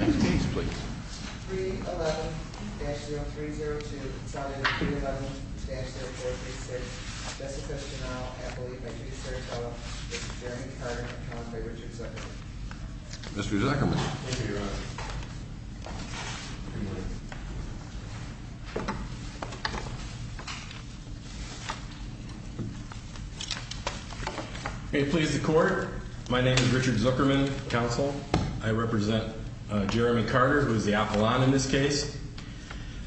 311-0302-7 311-0436 Mr. Zuckerman, may it please the court, my name is Richard Zuckerman, counsel. I represent Jeremy Carter, who is the apollon in this case.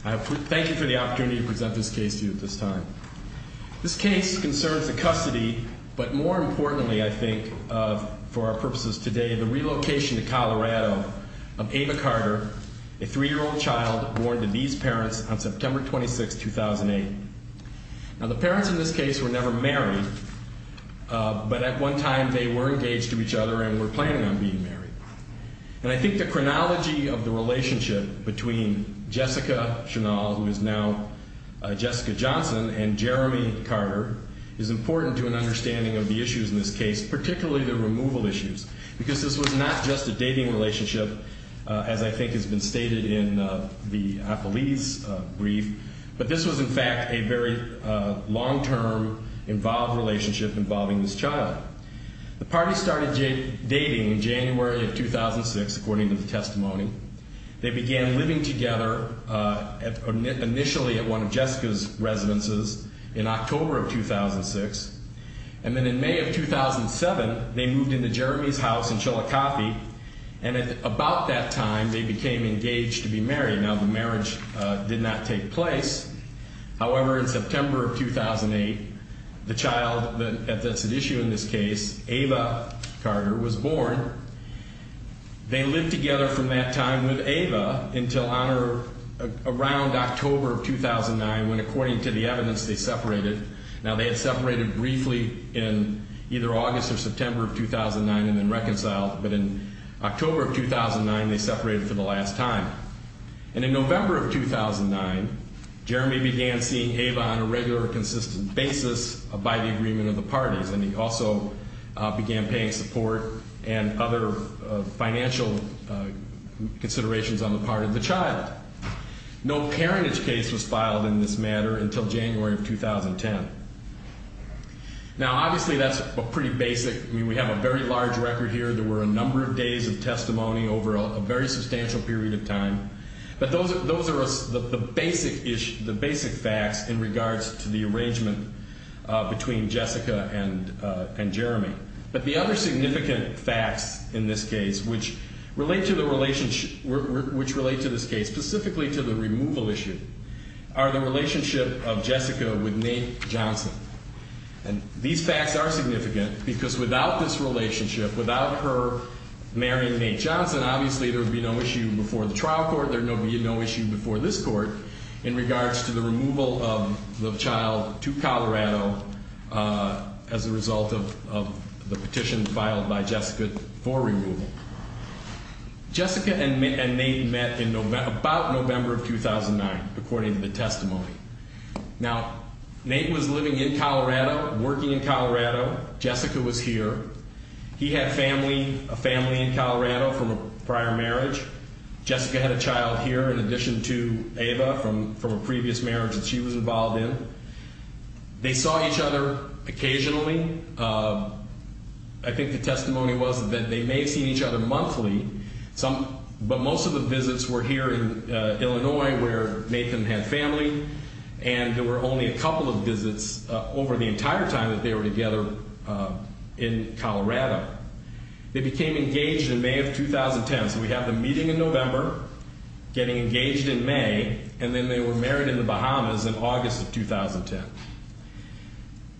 I thank you for the opportunity to present this case to you at this time. This case concerns the custody, but more importantly, I think, for our purposes today, the relocation to Colorado of Ava Carter, a three-year-old child born to these parents on September 26, 2008. Now, the parents in this case were never married, but at one time they were engaged to each other and were planning on being married. And I think the chronology of the relationship between Jessica Chenal, who is now Jessica Johnson, and Jeremy Carter is important to an understanding of the issues in this case, particularly the removal issues. Because this was not just a dating relationship, as I think has been stated in the appellee's brief, but this was, in fact, a very long-term involved relationship involving this child. The party started dating in January of 2006, according to the testimony. They began living together initially at one of Jessica's residences in October of 2006. And then in May of 2007, they moved into Jeremy's house in Chillicothe, and at about that time, they became engaged to be married. Now, the marriage did not take place. However, in September of 2008, the child that's at issue in this case, Ava Carter, was born. They lived together from that time with Ava until around October of 2009 when, according to the evidence, they separated. Now, they had separated briefly in either August or September of 2009 and then reconciled. But in October of 2009, they separated for the last time. And in November of 2009, Jeremy began seeing Ava on a regular, consistent basis by the agreement of the parties. And he also began paying support and other financial considerations on the part of the child. No parentage case was filed in this matter until January of 2010. Now, obviously, that's pretty basic. I mean, we have a very large record here. There were a number of days of testimony over a very substantial period of time. But those are the basic facts in regards to the arrangement between Jessica and Jeremy. But the other significant facts in this case which relate to this case, specifically to the removal issue, are the relationship of Jessica with Nate Johnson. And these facts are significant because without this relationship, without her marrying Nate Johnson, obviously, there would be no issue before the trial court. There would be no issue before this court in regards to the removal of the child to Colorado as a result of the petition filed by Jessica for removal. Jessica and Nate met in about November of 2009, according to the testimony. Now, Nate was living in Colorado, working in Colorado. Jessica was here. He had family, a family in Colorado from a prior marriage. Jessica had a child here in addition to Ava from a previous marriage that she was involved in. They saw each other occasionally. I think the testimony was that they may have seen each other monthly. But most of the visits were here in Illinois where Nathan had family. And there were only a couple of visits over the entire time that they were together in Colorado. They became engaged in May of 2010. So we have them meeting in November, getting engaged in May, and then they were married in the Bahamas in August of 2010.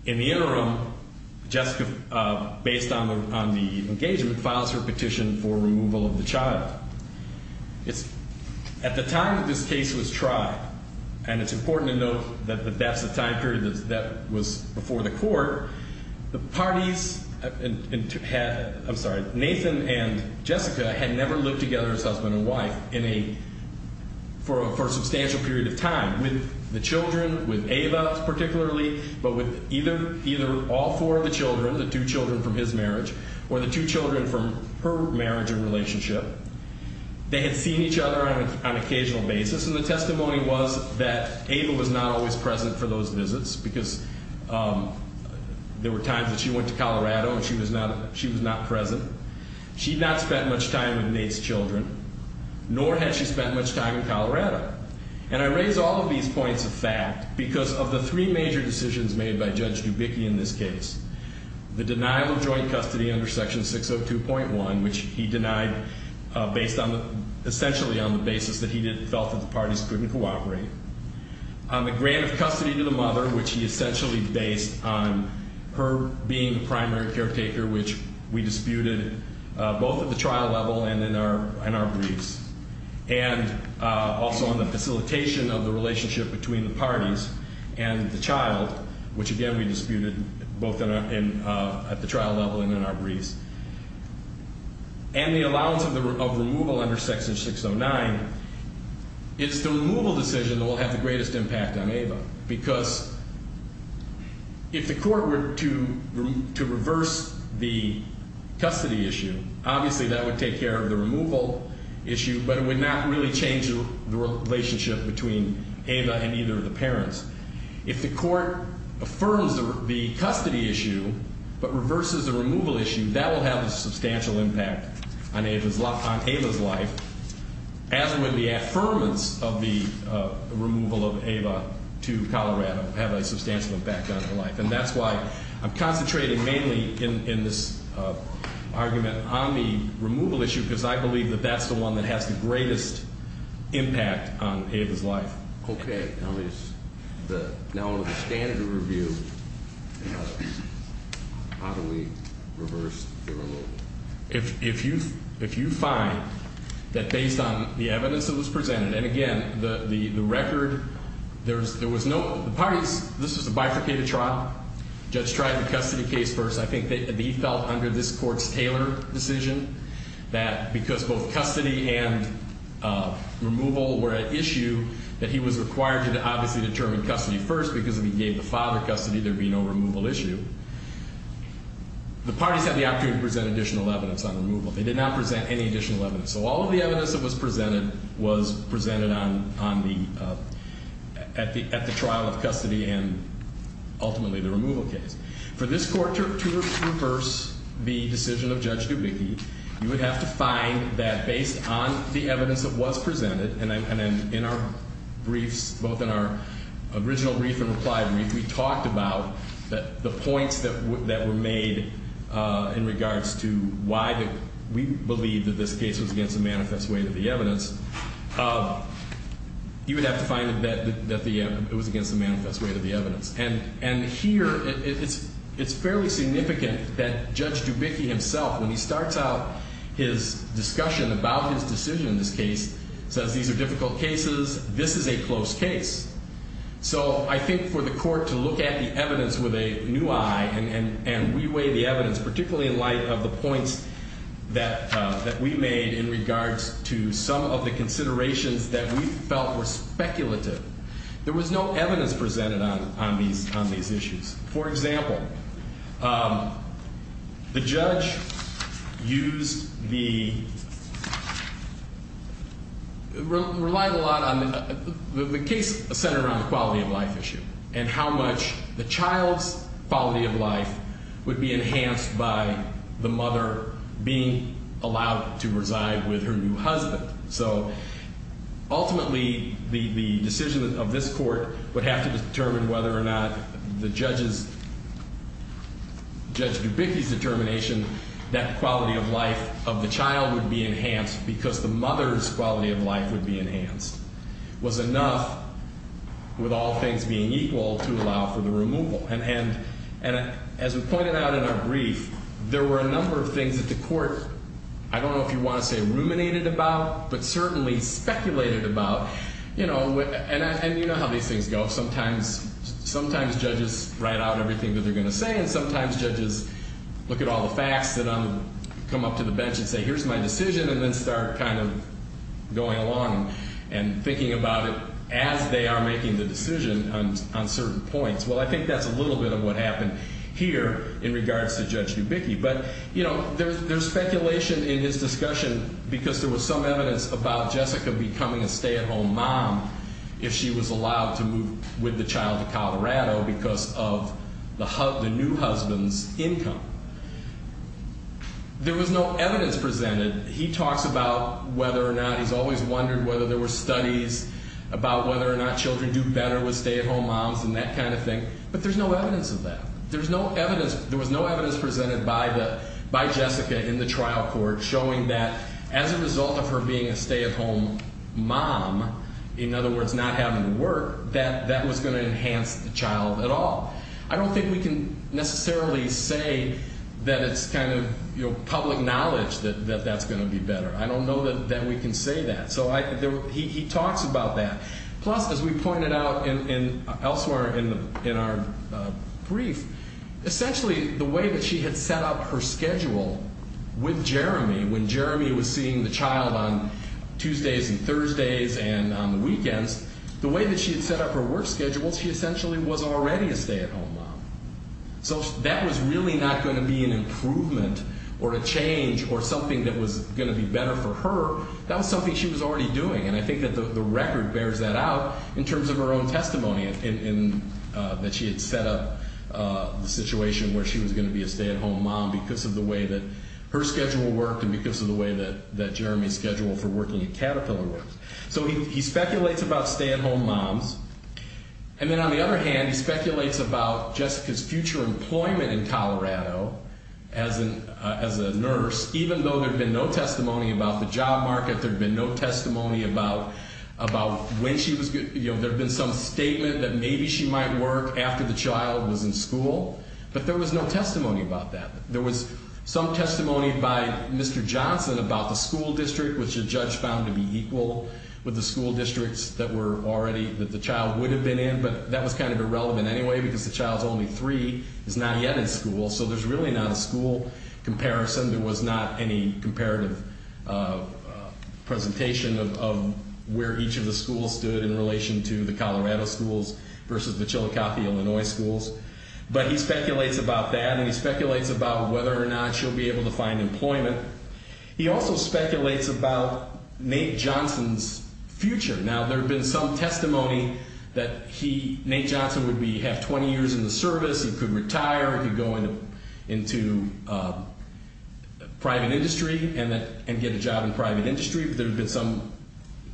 In the interim, Jessica, based on the engagement, files her petition for removal of the child. At the time that this case was tried, and it's important to note that that's the time period that was before the court, the parties, I'm sorry, Nathan and Jessica had never lived together as husband and wife for a substantial period of time. With the children, with Ava particularly, but with either all four of the children, the two children from his marriage, or the two children from her marriage and relationship, they had seen each other on an occasional basis. And the testimony was that Ava was not always present for those visits because there were times that she went to Colorado and she was not present. She had not spent much time with Nate's children, nor had she spent much time in Colorado. And I raise all of these points of fact because of the three major decisions made by Judge Dubicki in this case, the denial of joint custody under Section 602.1, which he denied based on the, essentially on the basis that he felt that the parties couldn't cooperate, on the grant of custody to the mother, which he essentially based on her being the primary caretaker, which we disputed both at the trial level and in our briefs, and also on the facilitation of the relationship between the parties and the child, which again we disputed both at the trial level and in our briefs, and the allowance of removal under Section 609. It's the removal decision that will have the greatest impact on Ava because if the court were to reverse the custody issue, obviously that would take care of the removal issue, but it would not really change the relationship between Ava and either of the parents. If the court affirms the custody issue but reverses the removal issue, that will have a substantial impact on Ava's life, as would the affirmance of the removal of Ava to Colorado have a substantial impact on her life. And that's why I'm concentrating mainly in this argument on the removal issue, because I believe that that's the one that has the greatest impact on Ava's life. Okay. Now is the, now under the standard of review, how do we reverse the removal? If you find that based on the evidence that was presented, and again, the record, there was no, the parties, this was a bifurcated trial, judge tried the custody case first. I think that he felt under this court's Taylor decision that because both custody and removal were at issue, that he was required to obviously determine custody first because if he gave the father custody, there'd be no removal issue. The parties had the opportunity to present additional evidence on removal. They did not present any additional evidence. So all of the evidence that was presented was presented on the, at the trial of custody and ultimately the removal case. For this court to reverse the decision of Judge Dubicki, you would have to find that based on the evidence that was presented, and then in our briefs, both in our original brief and reply brief, we talked about the points that were made in regards to why we believe that this case was against the manifest weight of the evidence. You would have to find that it was against the manifest weight of the evidence. And here, it's fairly significant that Judge Dubicki himself, when he starts out his discussion about his decision in this case, says these are difficult cases, this is a close case. So I think for the court to look at the evidence with a new eye, and we weigh the evidence, particularly in light of the points that we made in regards to some of the considerations that we felt were speculative, there was no evidence presented on these issues. For example, the judge used the, relied a lot on, the case centered around the quality of life issue, and how much the child's quality of life would be enhanced by the mother being allowed to reside with her new husband. So ultimately, the decision of this court would have to determine whether or not the judge's, Judge Dubicki's determination that quality of life of the child would be enhanced because the mother's quality of life would be enhanced was enough, with all things being equal, to allow for the removal. And as we pointed out in our brief, there were a number of things that the court, I don't know if you want to say ruminated about, but certainly speculated about. You know, and you know how these things go. Sometimes, sometimes judges write out everything that they're going to say, and sometimes judges look at all the facts that come up to the bench and say, here's my decision, and then start kind of going along and thinking about it as they are making the decision on certain points. Well, I think that's a little bit of what happened here in regards to Judge Dubicki. But, you know, there's speculation in his discussion because there was some evidence about Jessica becoming a stay-at-home mom if she was allowed to move with the child to Colorado because of the new husband's income. There was no evidence presented. He talks about whether or not, he's always wondered whether there were studies about whether or not children do better with stay-at-home moms and that kind of thing, but there's no evidence of that. There was no evidence presented by Jessica in the trial court showing that as a result of her being a stay-at-home mom, in other words, not having to work, that that was going to enhance the child at all. I don't think we can necessarily say that it's kind of, you know, public knowledge that that's going to be better. I don't know that we can say that. So he talks about that. Plus, as we pointed out elsewhere in our brief, essentially the way that she had set up her schedule with Jeremy, when Jeremy was seeing the child on Tuesdays and Thursdays and on the weekends, the way that she had set up her work schedule, she essentially was already a stay-at-home mom. So that was really not going to be an improvement or a change or something that was going to be better for her. That was something she was already doing, and I think that the record bears that out in terms of her own testimony in that she had set up the situation where she was going to be a stay-at-home mom because of the way that her schedule worked and because of the way that Jeremy's schedule for working at Caterpillar worked. So he speculates about stay-at-home moms. And then on the other hand, he speculates about Jessica's future employment in Colorado as a nurse, even though there had been no testimony about the job market, there had been no testimony about when she was going to be, you know, there had been some statement that maybe she might work after the child was in school, but there was no testimony about that. There was some testimony by Mr. Johnson about the school district, which the judge found to be equal with the school districts that were already, that the child would have been in, but that was kind of irrelevant anyway because the child's only three, is not yet in school, so there's really not a school comparison. There was not any comparative presentation of where each of the schools stood in relation to the Colorado schools versus the Chillicothe, Illinois schools. But he speculates about that, and he speculates about whether or not she'll be able to find employment. He also speculates about Nate Johnson's future. Now, there had been some testimony that he, Nate Johnson, would have 20 years in the service. He could retire. He could go into private industry and get a job in private industry. There had been some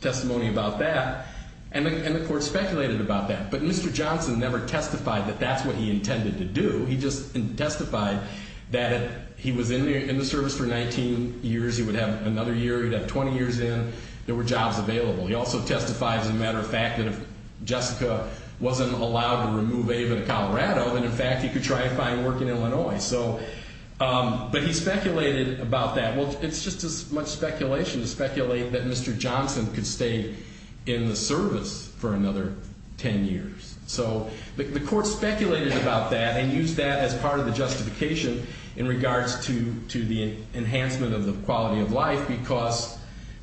testimony about that, and the court speculated about that. But Mr. Johnson never testified that that's what he intended to do. He just testified that if he was in the service for 19 years, he would have another year. He'd have 20 years in. There were jobs available. He also testified, as a matter of fact, that if Jessica wasn't allowed to remove Ava to Colorado, then, in fact, he could try and find work in Illinois. But he speculated about that. Well, it's just as much speculation to speculate that Mr. Johnson could stay in the service for another 10 years. So the court speculated about that and used that as part of the justification in regards to the enhancement of the quality of life because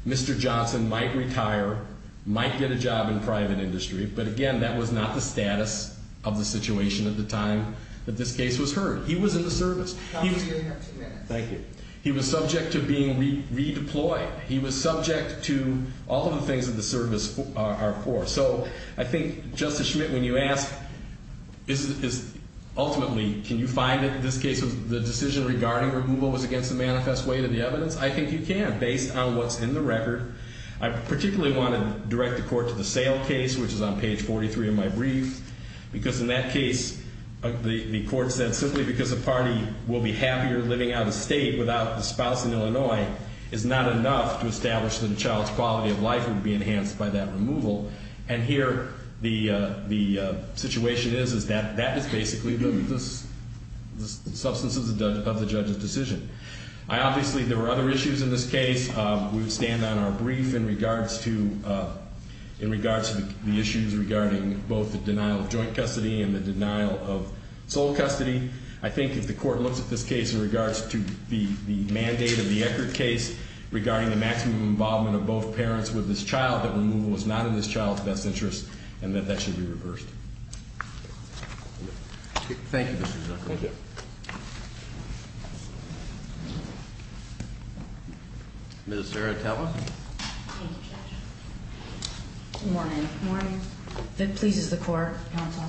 Mr. Johnson might retire, might get a job in private industry. But, again, that was not the status of the situation at the time that this case was heard. He was in the service. Thank you. He was subject to being redeployed. He was subject to all of the things that the service are for. So I think, Justice Schmidt, when you ask, ultimately, can you find it in this case, if the decision regarding removal was against the manifest way to the evidence, I think you can, based on what's in the record. I particularly want to direct the court to the sale case, which is on page 43 of my brief, because in that case, the court said simply because a party will be happier living out of state without a spouse in Illinois is not enough to establish that a child's quality of life would be enhanced by that removal. And here, the situation is that that is basically the substance of the judge's decision. Obviously, there were other issues in this case. We would stand on our brief in regards to the issues regarding both the denial of joint custody and the denial of sole custody. I think if the court looks at this case in regards to the mandate of the Eckert case regarding the maximum involvement of both parents with this child, we can see why the removal was not in this child's best interest and that that should be reversed. Thank you, Mr. Zuckerberg. Thank you. Ms. Zaratella. Thank you, Judge. Good morning. Good morning. That pleases the court, counsel.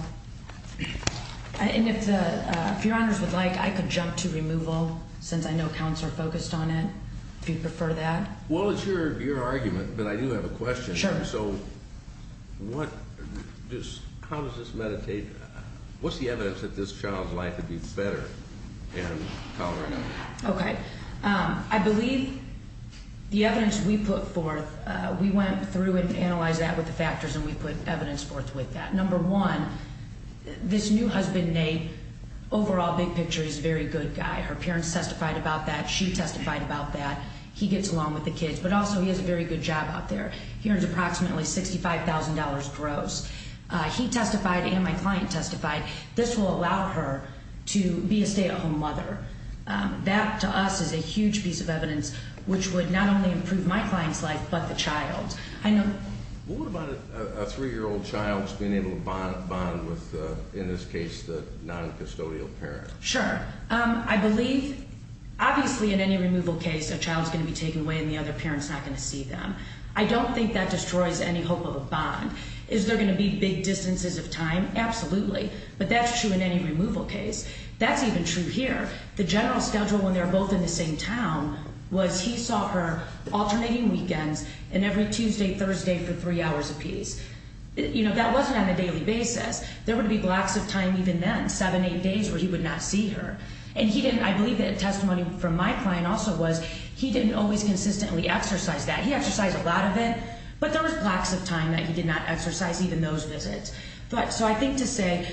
And if your honors would like, I could jump to removal, since I know counsel are focused on it, if you prefer that. Well, it's your argument, but I do have a question. Sure. So how does this meditate? What's the evidence that this child's life would be better and tolerable? Okay. I believe the evidence we put forth, we went through and analyzed that with the factors, and we put evidence forth with that. Number one, this new husband, Nate, overall, big picture, he's a very good guy. Her parents testified about that. She testified about that. He gets along with the kids. But also, he has a very good job out there. He earns approximately $65,000 gross. He testified and my client testified. This will allow her to be a stay-at-home mother. That, to us, is a huge piece of evidence, which would not only improve my client's life, but the child's. What about a 3-year-old child's being able to bond with, in this case, the noncustodial parent? Sure. I believe, obviously, in any removal case, a child's going to be taken away and the other parent's not going to see them. I don't think that destroys any hope of a bond. Is there going to be big distances of time? Absolutely. But that's true in any removal case. That's even true here. The general schedule when they're both in the same town was he saw her alternating weekends and every Tuesday, Thursday for three hours apiece. That wasn't on a daily basis. There would be blocks of time even then, seven, eight days, where he would not see her. And I believe that testimony from my client also was he didn't always consistently exercise that. He exercised a lot of it, but there was blocks of time that he did not exercise even those visits. So I think to say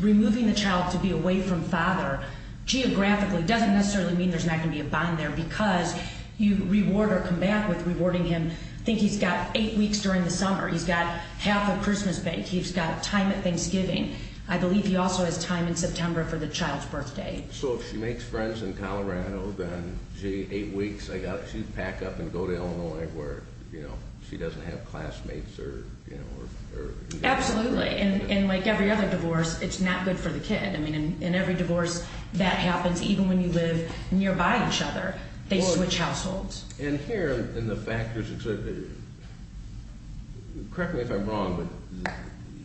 removing the child to be away from father geographically doesn't necessarily mean there's not going to be a bond there because you reward or come back with rewarding him. I think he's got eight weeks during the summer. He's got half of Christmas break. He's got time at Thanksgiving. I believe he also has time in September for the child's birthday. So if she makes friends in Colorado, then gee, eight weeks. She'd pack up and go to Illinois where she doesn't have classmates. Absolutely. And like every other divorce, it's not good for the kid. In every divorce that happens, even when you live nearby each other, they switch households. And here in the factors, correct me if I'm wrong, but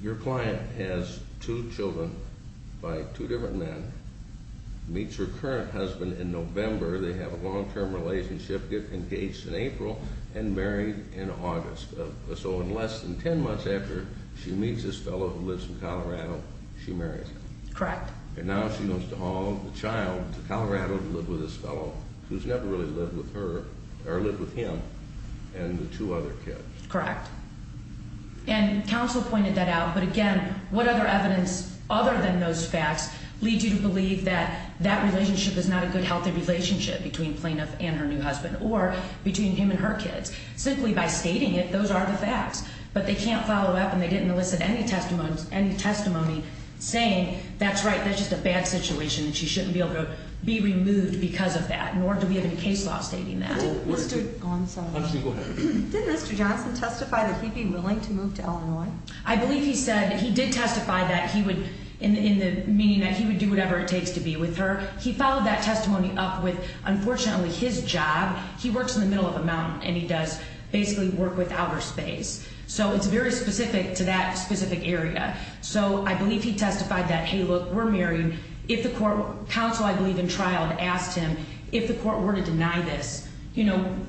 your client has two children by two different men, meets her current husband in November. They have a long-term relationship, get engaged in April, and married in August. So in less than ten months after she meets this fellow who lives in Colorado, she marries him. Correct. And now she wants to haul the child to Colorado to live with this fellow who's never really lived with her or lived with him and the two other kids. Correct. And counsel pointed that out, but again, what other evidence other than those facts leads you to believe that that relationship is not a good, healthy relationship between plaintiff and her new husband or between him and her kids? Simply by stating it, those are the facts. But they can't follow up and they didn't elicit any testimony saying that's right, that's just a bad situation and she shouldn't be able to be removed because of that. Nor do we have any case law stating that. Didn't Mr. Johnson testify that he'd be willing to move to Illinois? I believe he said he did testify that he would, meaning that he would do whatever it takes to be with her. He followed that testimony up with, unfortunately, his job. He works in the middle of a mountain and he does basically work with outer space. So it's very specific to that specific area. So I believe he testified that, hey, look, we're married. Counsel, I believe, in trial had asked him if the court were to deny this,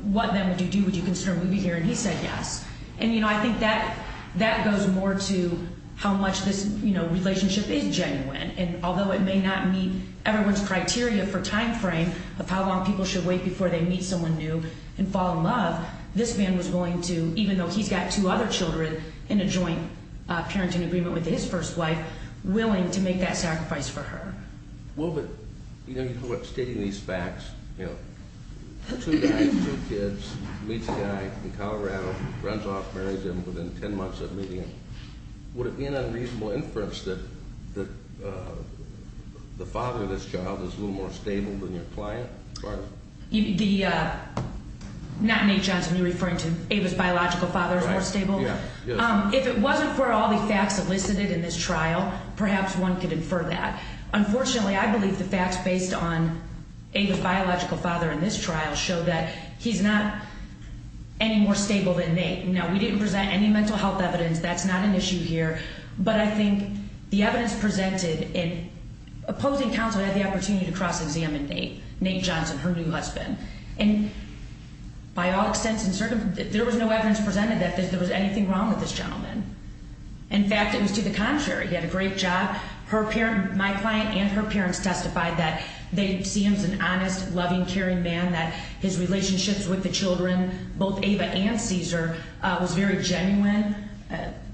what then would you do? Would you consider moving here? And he said yes. And I think that goes more to how much this relationship is genuine. And although it may not meet everyone's criteria for time frame of how long people should wait before they meet someone new and fall in love, this man was willing to, even though he's got two other children in a joint parenting agreement with his first wife, willing to make that sacrifice for her. Well, but, you know, stating these facts, you know, two guys, two kids, meets a guy in Colorado, runs off, marries him, within 10 months of meeting him, would it be an unreasonable inference that the father of this child is a little more stable than your client? The, not Nate Johnson, you're referring to Ava's biological father is more stable? Yeah. If it wasn't for all the facts elicited in this trial, perhaps one could infer that. Unfortunately, I believe the facts based on Ava's biological father in this trial show that he's not any more stable than Nate. Now, we didn't present any mental health evidence. That's not an issue here. But I think the evidence presented in opposing counsel had the opportunity to cross-examine Nate, Nate Johnson, her new husband. And by all extents, there was no evidence presented that there was anything wrong with this gentleman. In fact, it was to the contrary. He had a great job. Her parent, my client and her parents testified that they see him as an honest, loving, caring man, that his relationships with the children, both Ava and Cesar, was very genuine.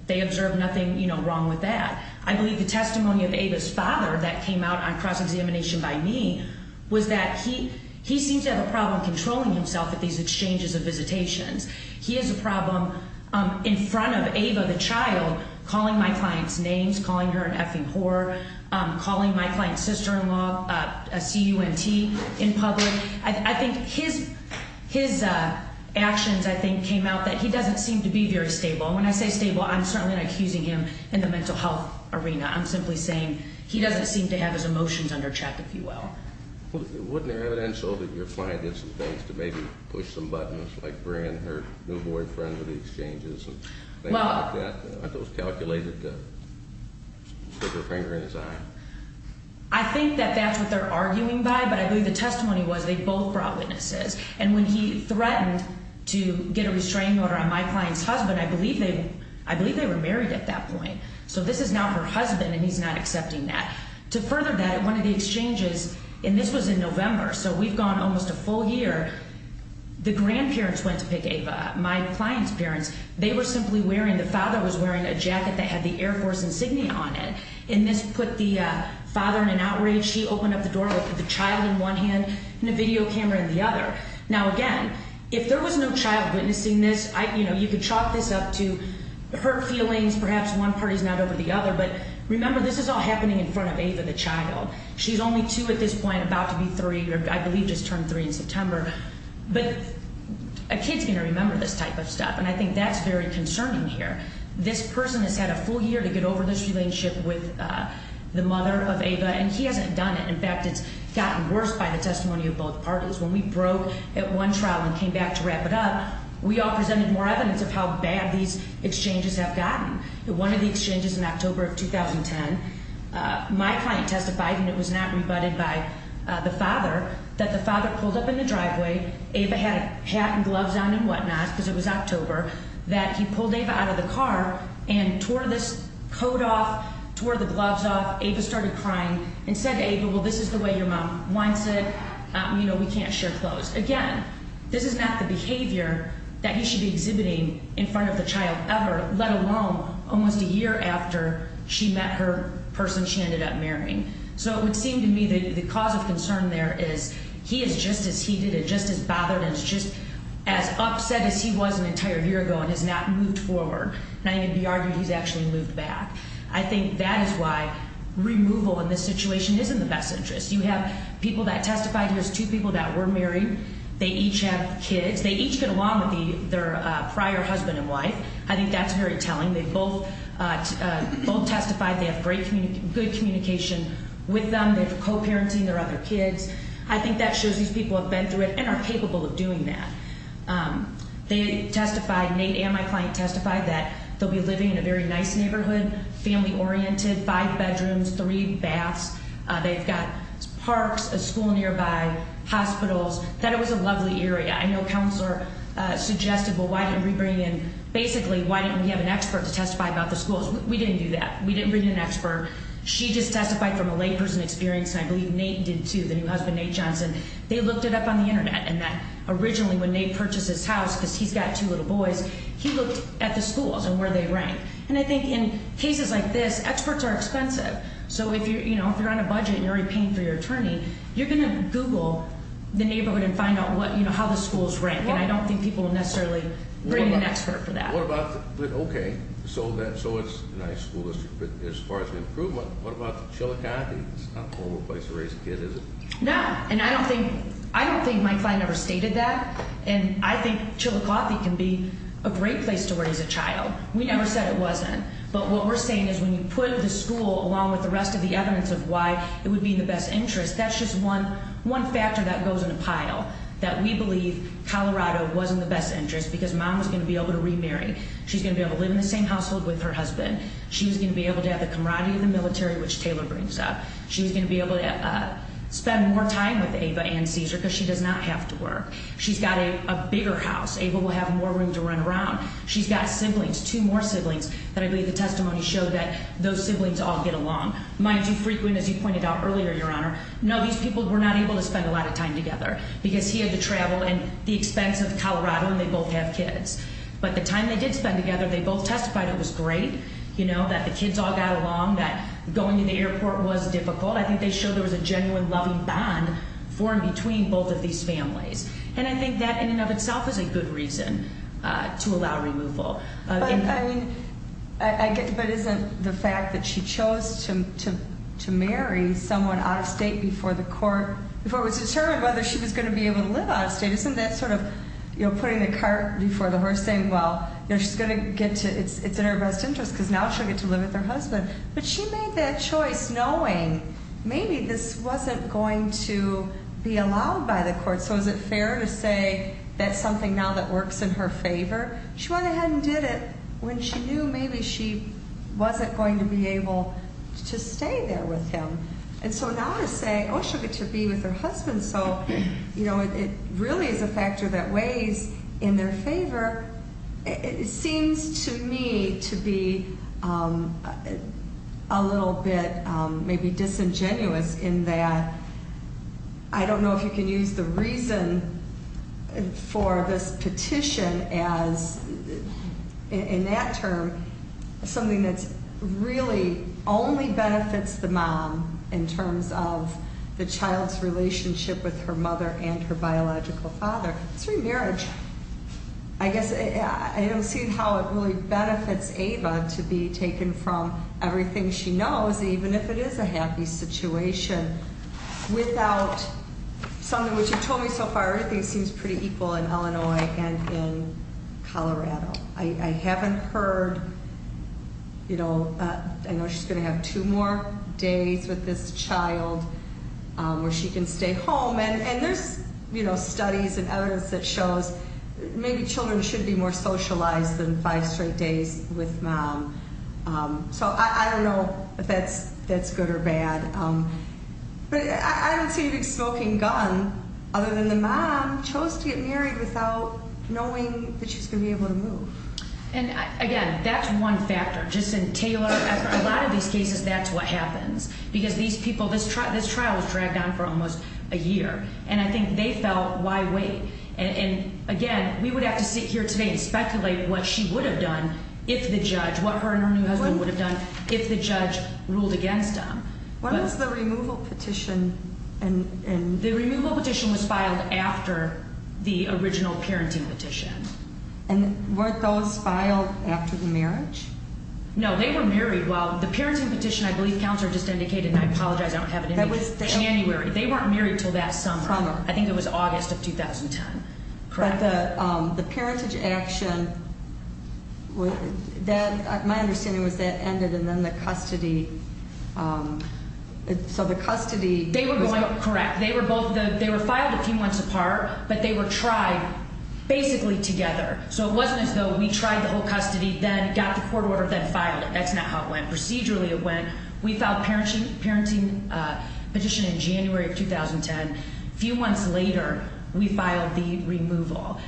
They observed nothing, you know, wrong with that. I believe the testimony of Ava's father that came out on cross-examination by me was that he seems to have a problem controlling himself at these exchanges of visitations. He has a problem in front of Ava, the child, calling my client's names, calling her an effing whore, calling my client's sister-in-law a C-U-N-T in public. I think his actions, I think, came out that he doesn't seem to be very stable. And when I say stable, I'm certainly not accusing him in the mental health arena. I'm simply saying he doesn't seem to have his emotions under check, if you will. Well, wouldn't it be evidential that your client did some things to maybe push some buttons, like bring her new boyfriend to the exchanges and things like that? Aren't those calculated to stick a finger in his eye? I think that that's what they're arguing by, but I believe the testimony was they both brought witnesses. And when he threatened to get a restraining order on my client's husband, I believe they were married at that point. So this is now her husband, and he's not accepting that. To further that, at one of the exchanges, and this was in November, so we've gone almost a full year, the grandparents went to pick Ava, my client's parents. They were simply wearing, the father was wearing a jacket that had the Air Force insignia on it. And this put the father in an outrage. He opened up the door and looked at the child in one hand and the video camera in the other. Now, again, if there was no child witnessing this, you could chalk this up to hurt feelings. Perhaps one party's not over the other, but remember, this is all happening in front of Ava, the child. She's only two at this point, about to be three, or I believe just turned three in September. But a kid's going to remember this type of stuff, and I think that's very concerning here. This person has had a full year to get over this relationship with the mother of Ava, and he hasn't done it. In fact, it's gotten worse by the testimony of both parties. When we broke at one trial and came back to wrap it up, we all presented more evidence of how bad these exchanges have gotten. One of the exchanges in October of 2010, my client testified, and it was not rebutted by the father, that the father pulled up in the driveway, Ava had a hat and gloves on and whatnot because it was October, that he pulled Ava out of the car and tore this coat off, tore the gloves off. Ava started crying and said to Ava, well, this is the way your mom wants it. You know, we can't share clothes. Again, this is not the behavior that he should be exhibiting in front of the child ever, let alone almost a year after she met her person she ended up marrying. So it would seem to me that the cause of concern there is he is just as heated and just as bothered and just as upset as he was an entire year ago and has not moved forward. And I think it would be argued he's actually moved back. I think that is why removal in this situation is in the best interest. You have people that testified. Here's two people that were married. They each have kids. They each get along with their prior husband and wife. I think that's very telling. They both testified. They have great communication with them. They're co-parenting their other kids. I think that shows these people have been through it and are capable of doing that. They testified, Nate and my client testified, that they'll be living in a very nice neighborhood, family-oriented, five bedrooms, three baths. They've got parks, a school nearby, hospitals. I thought it was a lovely area. I know Counselor suggested, well, why didn't we bring in, basically, why didn't we have an expert to testify about the schools? We didn't do that. We didn't bring in an expert. She just testified from a layperson experience, and I believe Nate did too, the new husband, Nate Johnson. They looked it up on the Internet, and that originally when Nate purchased his house, because he's got two little boys, he looked at the schools and where they rank. And I think in cases like this, experts are expensive. So if you're on a budget and you're already paying for your attorney, you're going to Google the neighborhood and find out how the schools rank, and I don't think people will necessarily bring in an expert for that. Okay, so it's a nice school. As far as improvement, what about Chillicothe? It's not a horrible place to raise a kid, is it? No, and I don't think my client ever stated that, and I think Chillicothe can be a great place to raise a child. We never said it wasn't, but what we're saying is when you put the school along with the rest of the evidence of why it would be in the best interest, that's just one factor that goes in a pile, that we believe Colorado was in the best interest because Mom was going to be able to remarry. She's going to be able to live in the same household with her husband. She's going to be able to have the camaraderie of the military, which Taylor brings up. She's going to be able to spend more time with Ava and Cesar because she does not have to work. She's got a bigger house. Ava will have more room to run around. She's got siblings, two more siblings that I believe the testimony showed that those siblings all get along. Am I too frequent, as you pointed out earlier, Your Honor? No, these people were not able to spend a lot of time together because he had to travel at the expense of Colorado, and they both have kids. But the time they did spend together, they both testified it was great, you know, that the kids all got along, that going to the airport was difficult. I think they showed there was a genuine loving bond formed between both of these families. And I think that in and of itself is a good reason to allow removal. But isn't the fact that she chose to marry someone out of state before the court, before it was determined whether she was going to be able to live out of state, isn't that sort of, you know, putting the cart before the horse, saying, well, you know, it's in her best interest because now she'll get to live with her husband. But she made that choice knowing maybe this wasn't going to be allowed by the court. So is it fair to say that's something now that works in her favor? She went ahead and did it when she knew maybe she wasn't going to be able to stay there with him. And so now to say, oh, she'll get to be with her husband, so, you know, it really is a factor that weighs in their favor. It seems to me to be a little bit maybe disingenuous in that I don't know if you can use the reason for this petition as, in that term, something that's really only benefits the mom in terms of the child's relationship with her mother and her biological father. It's remarriage. I guess I don't see how it really benefits Ava to be taken from everything she knows, even if it is a happy situation, without something, which you told me so far, I haven't heard, you know, I know she's going to have two more days with this child where she can stay home. And there's, you know, studies and evidence that shows maybe children should be more socialized than five straight days with mom. So I don't know if that's good or bad. But I don't see a big smoking gun other than the mom chose to get married without knowing that she's going to be able to move. And, again, that's one factor. Just in Taylor, a lot of these cases, that's what happens. Because these people, this trial was dragged on for almost a year. And I think they felt, why wait? And, again, we would have to sit here today and speculate what she would have done if the judge, what her and her new husband would have done if the judge ruled against them. When was the removal petition? The removal petition was filed after the original parenting petition. And weren't those filed after the marriage? No, they were married while the parenting petition, I believe Counselor just indicated, and I apologize, I don't have it in me, January. They weren't married until that summer. I think it was August of 2010. But the parentage action, my understanding was that ended and then the custody, so the custody. Correct. They were filed a few months apart, but they were tried basically together. So it wasn't as though we tried the whole custody, then got the court order, then filed it. That's not how it went. Procedurally it went. We filed the parenting petition in January of 2010. A few months later, we filed the removal.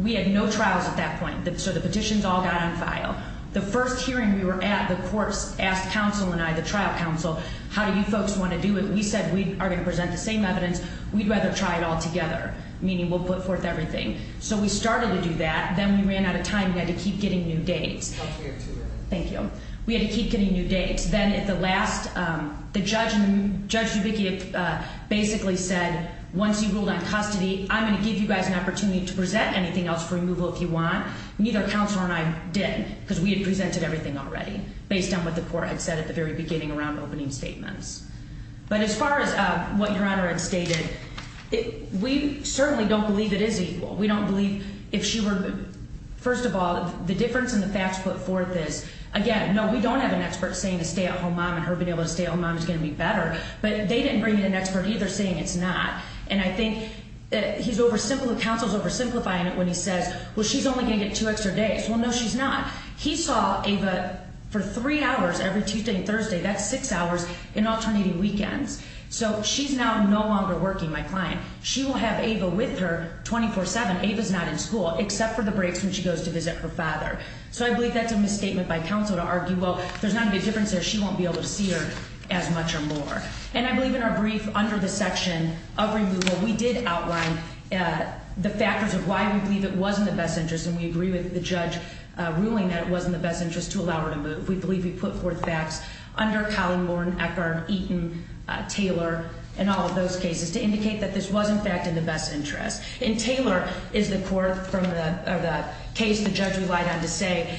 We had no trials at that point. So the petitions all got on file. The first hearing we were at, the courts asked Counsel and I, the trial counsel, how do you folks want to do it? We said we are going to present the same evidence. We'd rather try it all together, meaning we'll put forth everything. So we started to do that. Then we ran out of time and had to keep getting new dates. I'll clear it to you. Thank you. We had to keep getting new dates. Then at the last, the judge, Judge Dubicki, basically said once you ruled on custody, I'm going to give you guys an opportunity to present anything else for removal if you want. Neither Counselor and I did, because we had presented everything already, based on what the court had said at the very beginning around opening statements. But as far as what Your Honor had stated, we certainly don't believe it is equal. We don't believe if she were, first of all, the difference in the facts put forth is, again, no, we don't have an expert saying a stay-at-home mom and her being able to stay-at-home mom is going to be better. But they didn't bring in an expert either saying it's not. And I think he's oversimplifying, Counselor's oversimplifying it when he says, well, she's only going to get two extra days. Well, no, she's not. He saw Ava for three hours every Tuesday and Thursday. That's six hours in alternating weekends. So she's now no longer working, my client. She will have Ava with her 24-7. Ava's not in school except for the breaks when she goes to visit her father. So I believe that's a misstatement by Counsel to argue, well, there's not going to be a difference there. She won't be able to see her as much or more. And I believe in our brief under the section of removal we did outline the factors of why we believe it was in the best interest. And we agree with the judge ruling that it was in the best interest to allow her to move. We believe we put forth facts under Collin, Warren, Eckhardt, Eaton, Taylor, and all of those cases to indicate that this was, in fact, in the best interest. And Taylor is the court from the case the judge relied on to say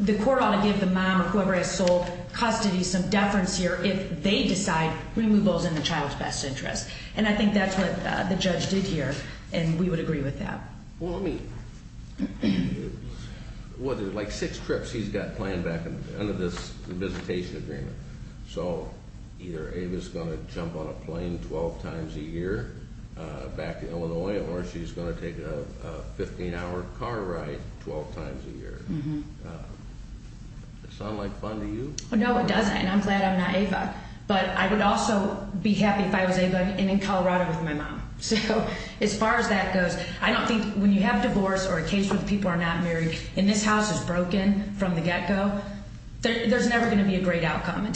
the court ought to give the mom or whoever has sole custody some deference here if they decide removal is in the child's best interest. And I think that's what the judge did here, and we would agree with that. Well, let me, well, there's like six trips he's got planned back under this visitation agreement. So either Ava's going to jump on a plane 12 times a year back to Illinois, or she's going to take a 15-hour car ride 12 times a year. Mm-hmm. Does that sound like fun to you? Well, no, it doesn't, and I'm glad I'm not Ava. But I would also be happy if I was Ava and in Colorado with my mom. So as far as that goes, I don't think when you have divorce or a case where people are not married and this house is broken from the get-go, there's never going to be a great outcome.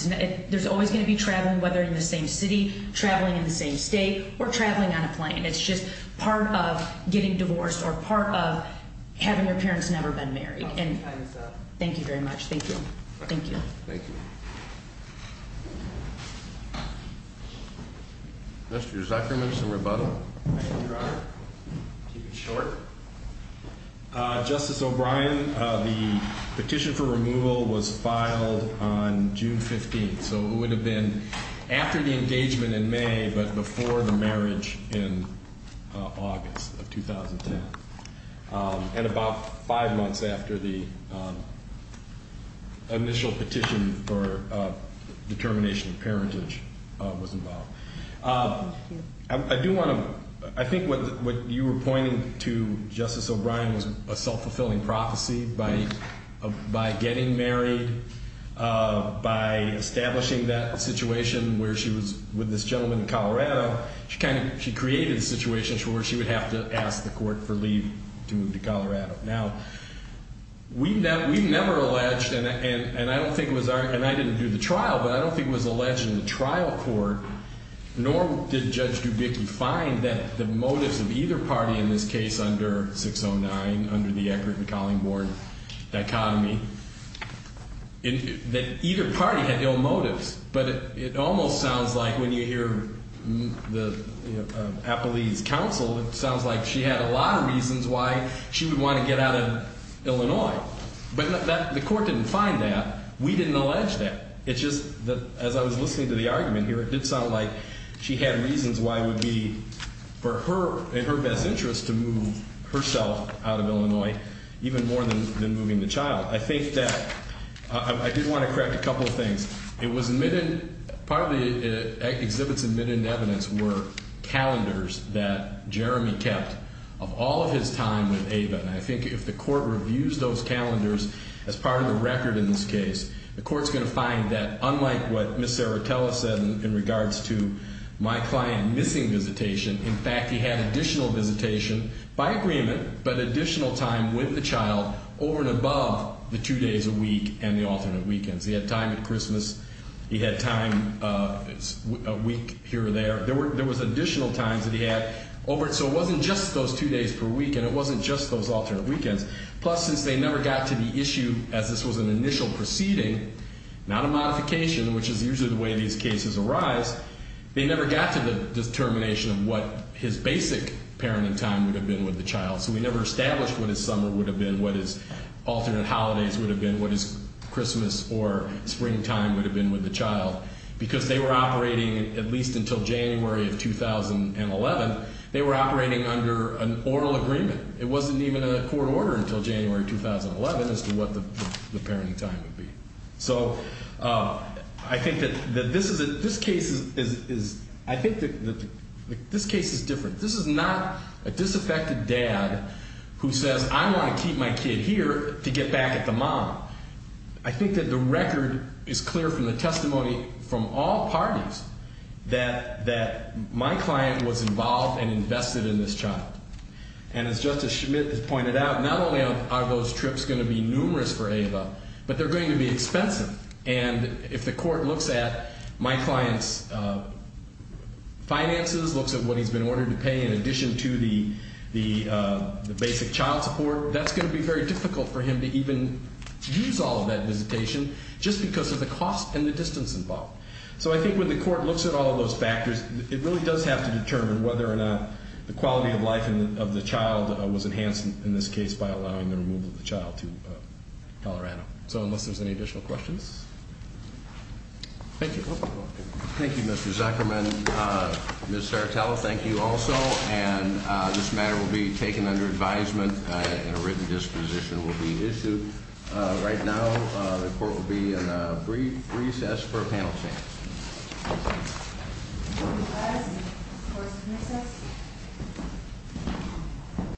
There's always going to be traveling, whether in the same city, traveling in the same state, or traveling on a plane. It's just part of getting divorced or part of having your parents never been married. Thank you very much. Thank you. Thank you. Thank you. Mr. Zucker, maybe some rebuttal. Thank you, Your Honor. I'll keep it short. Justice O'Brien, the petition for removal was filed on June 15th, so it would have been after the engagement in May but before the marriage in August of 2010. And about five months after the initial petition for determination of parentage was involved. I do want to, I think what you were pointing to, Justice O'Brien, was a self-fulfilling prophecy. By getting married, by establishing that situation where she was with this gentleman in Colorado, she created a situation where she would have to ask the court for leave to move to Colorado. Now, we never alleged, and I don't think it was our, and I didn't do the trial, but I don't think it was alleged in the trial court, nor did Judge Dubicki find that the motives of either party in this case under 609, under the Eckert-McCauley board dichotomy, that either party had ill motives. But it almost sounds like when you hear the Appellee's counsel, it sounds like she had a lot of reasons why she would want to get out of Illinois. But the court didn't find that. We didn't allege that. It's just that as I was listening to the argument here, it did sound like she had reasons why it would be for her and her best interest to move herself out of Illinois even more than moving the child. I think that, I did want to correct a couple of things. It was admitted, part of the exhibits admitted in evidence were calendars that Jeremy kept of all of his time with Ava. And I think if the court reviews those calendars as part of the record in this case, the court's going to find that unlike what Ms. Serratella said in regards to my client missing visitation, in fact, he had additional visitation by agreement, but additional time with the child over and above the two days a week and the alternate weekends. He had time at Christmas. He had time a week here or there. There was additional time that he had over it. So it wasn't just those two days per week, and it wasn't just those alternate weekends. Plus, since they never got to the issue as this was an initial proceeding, not a modification, which is usually the way these cases arise, they never got to the determination of what his basic parenting time would have been with the child. So we never established what his summer would have been, what his alternate holidays would have been, what his Christmas or springtime would have been with the child. Because they were operating, at least until January of 2011, they were operating under an oral agreement. It wasn't even a court order until January 2011 as to what the parenting time would be. So I think that this case is different. This is not a disaffected dad who says, I want to keep my kid here to get back at the mom. I think that the record is clear from the testimony from all parties that my client was involved and invested in this child. And as Justice Schmidt has pointed out, not only are those trips going to be numerous for Ava, but they're going to be expensive. And if the court looks at my client's finances, looks at what he's been ordered to pay in addition to the basic child support, that's going to be very difficult for him to even use all of that visitation just because of the cost and the distance involved. So I think when the court looks at all of those factors, it really does have to determine whether or not the quality of life of the child was enhanced in this case by allowing the removal of the child to Colorado. So unless there's any additional questions. Thank you. Thank you, Mr. Zuckerman. Ms. Sartella, thank you also. And this matter will be taken under advisement and a written disposition will be issued. Right now, the court will be in a brief recess for a panel chance.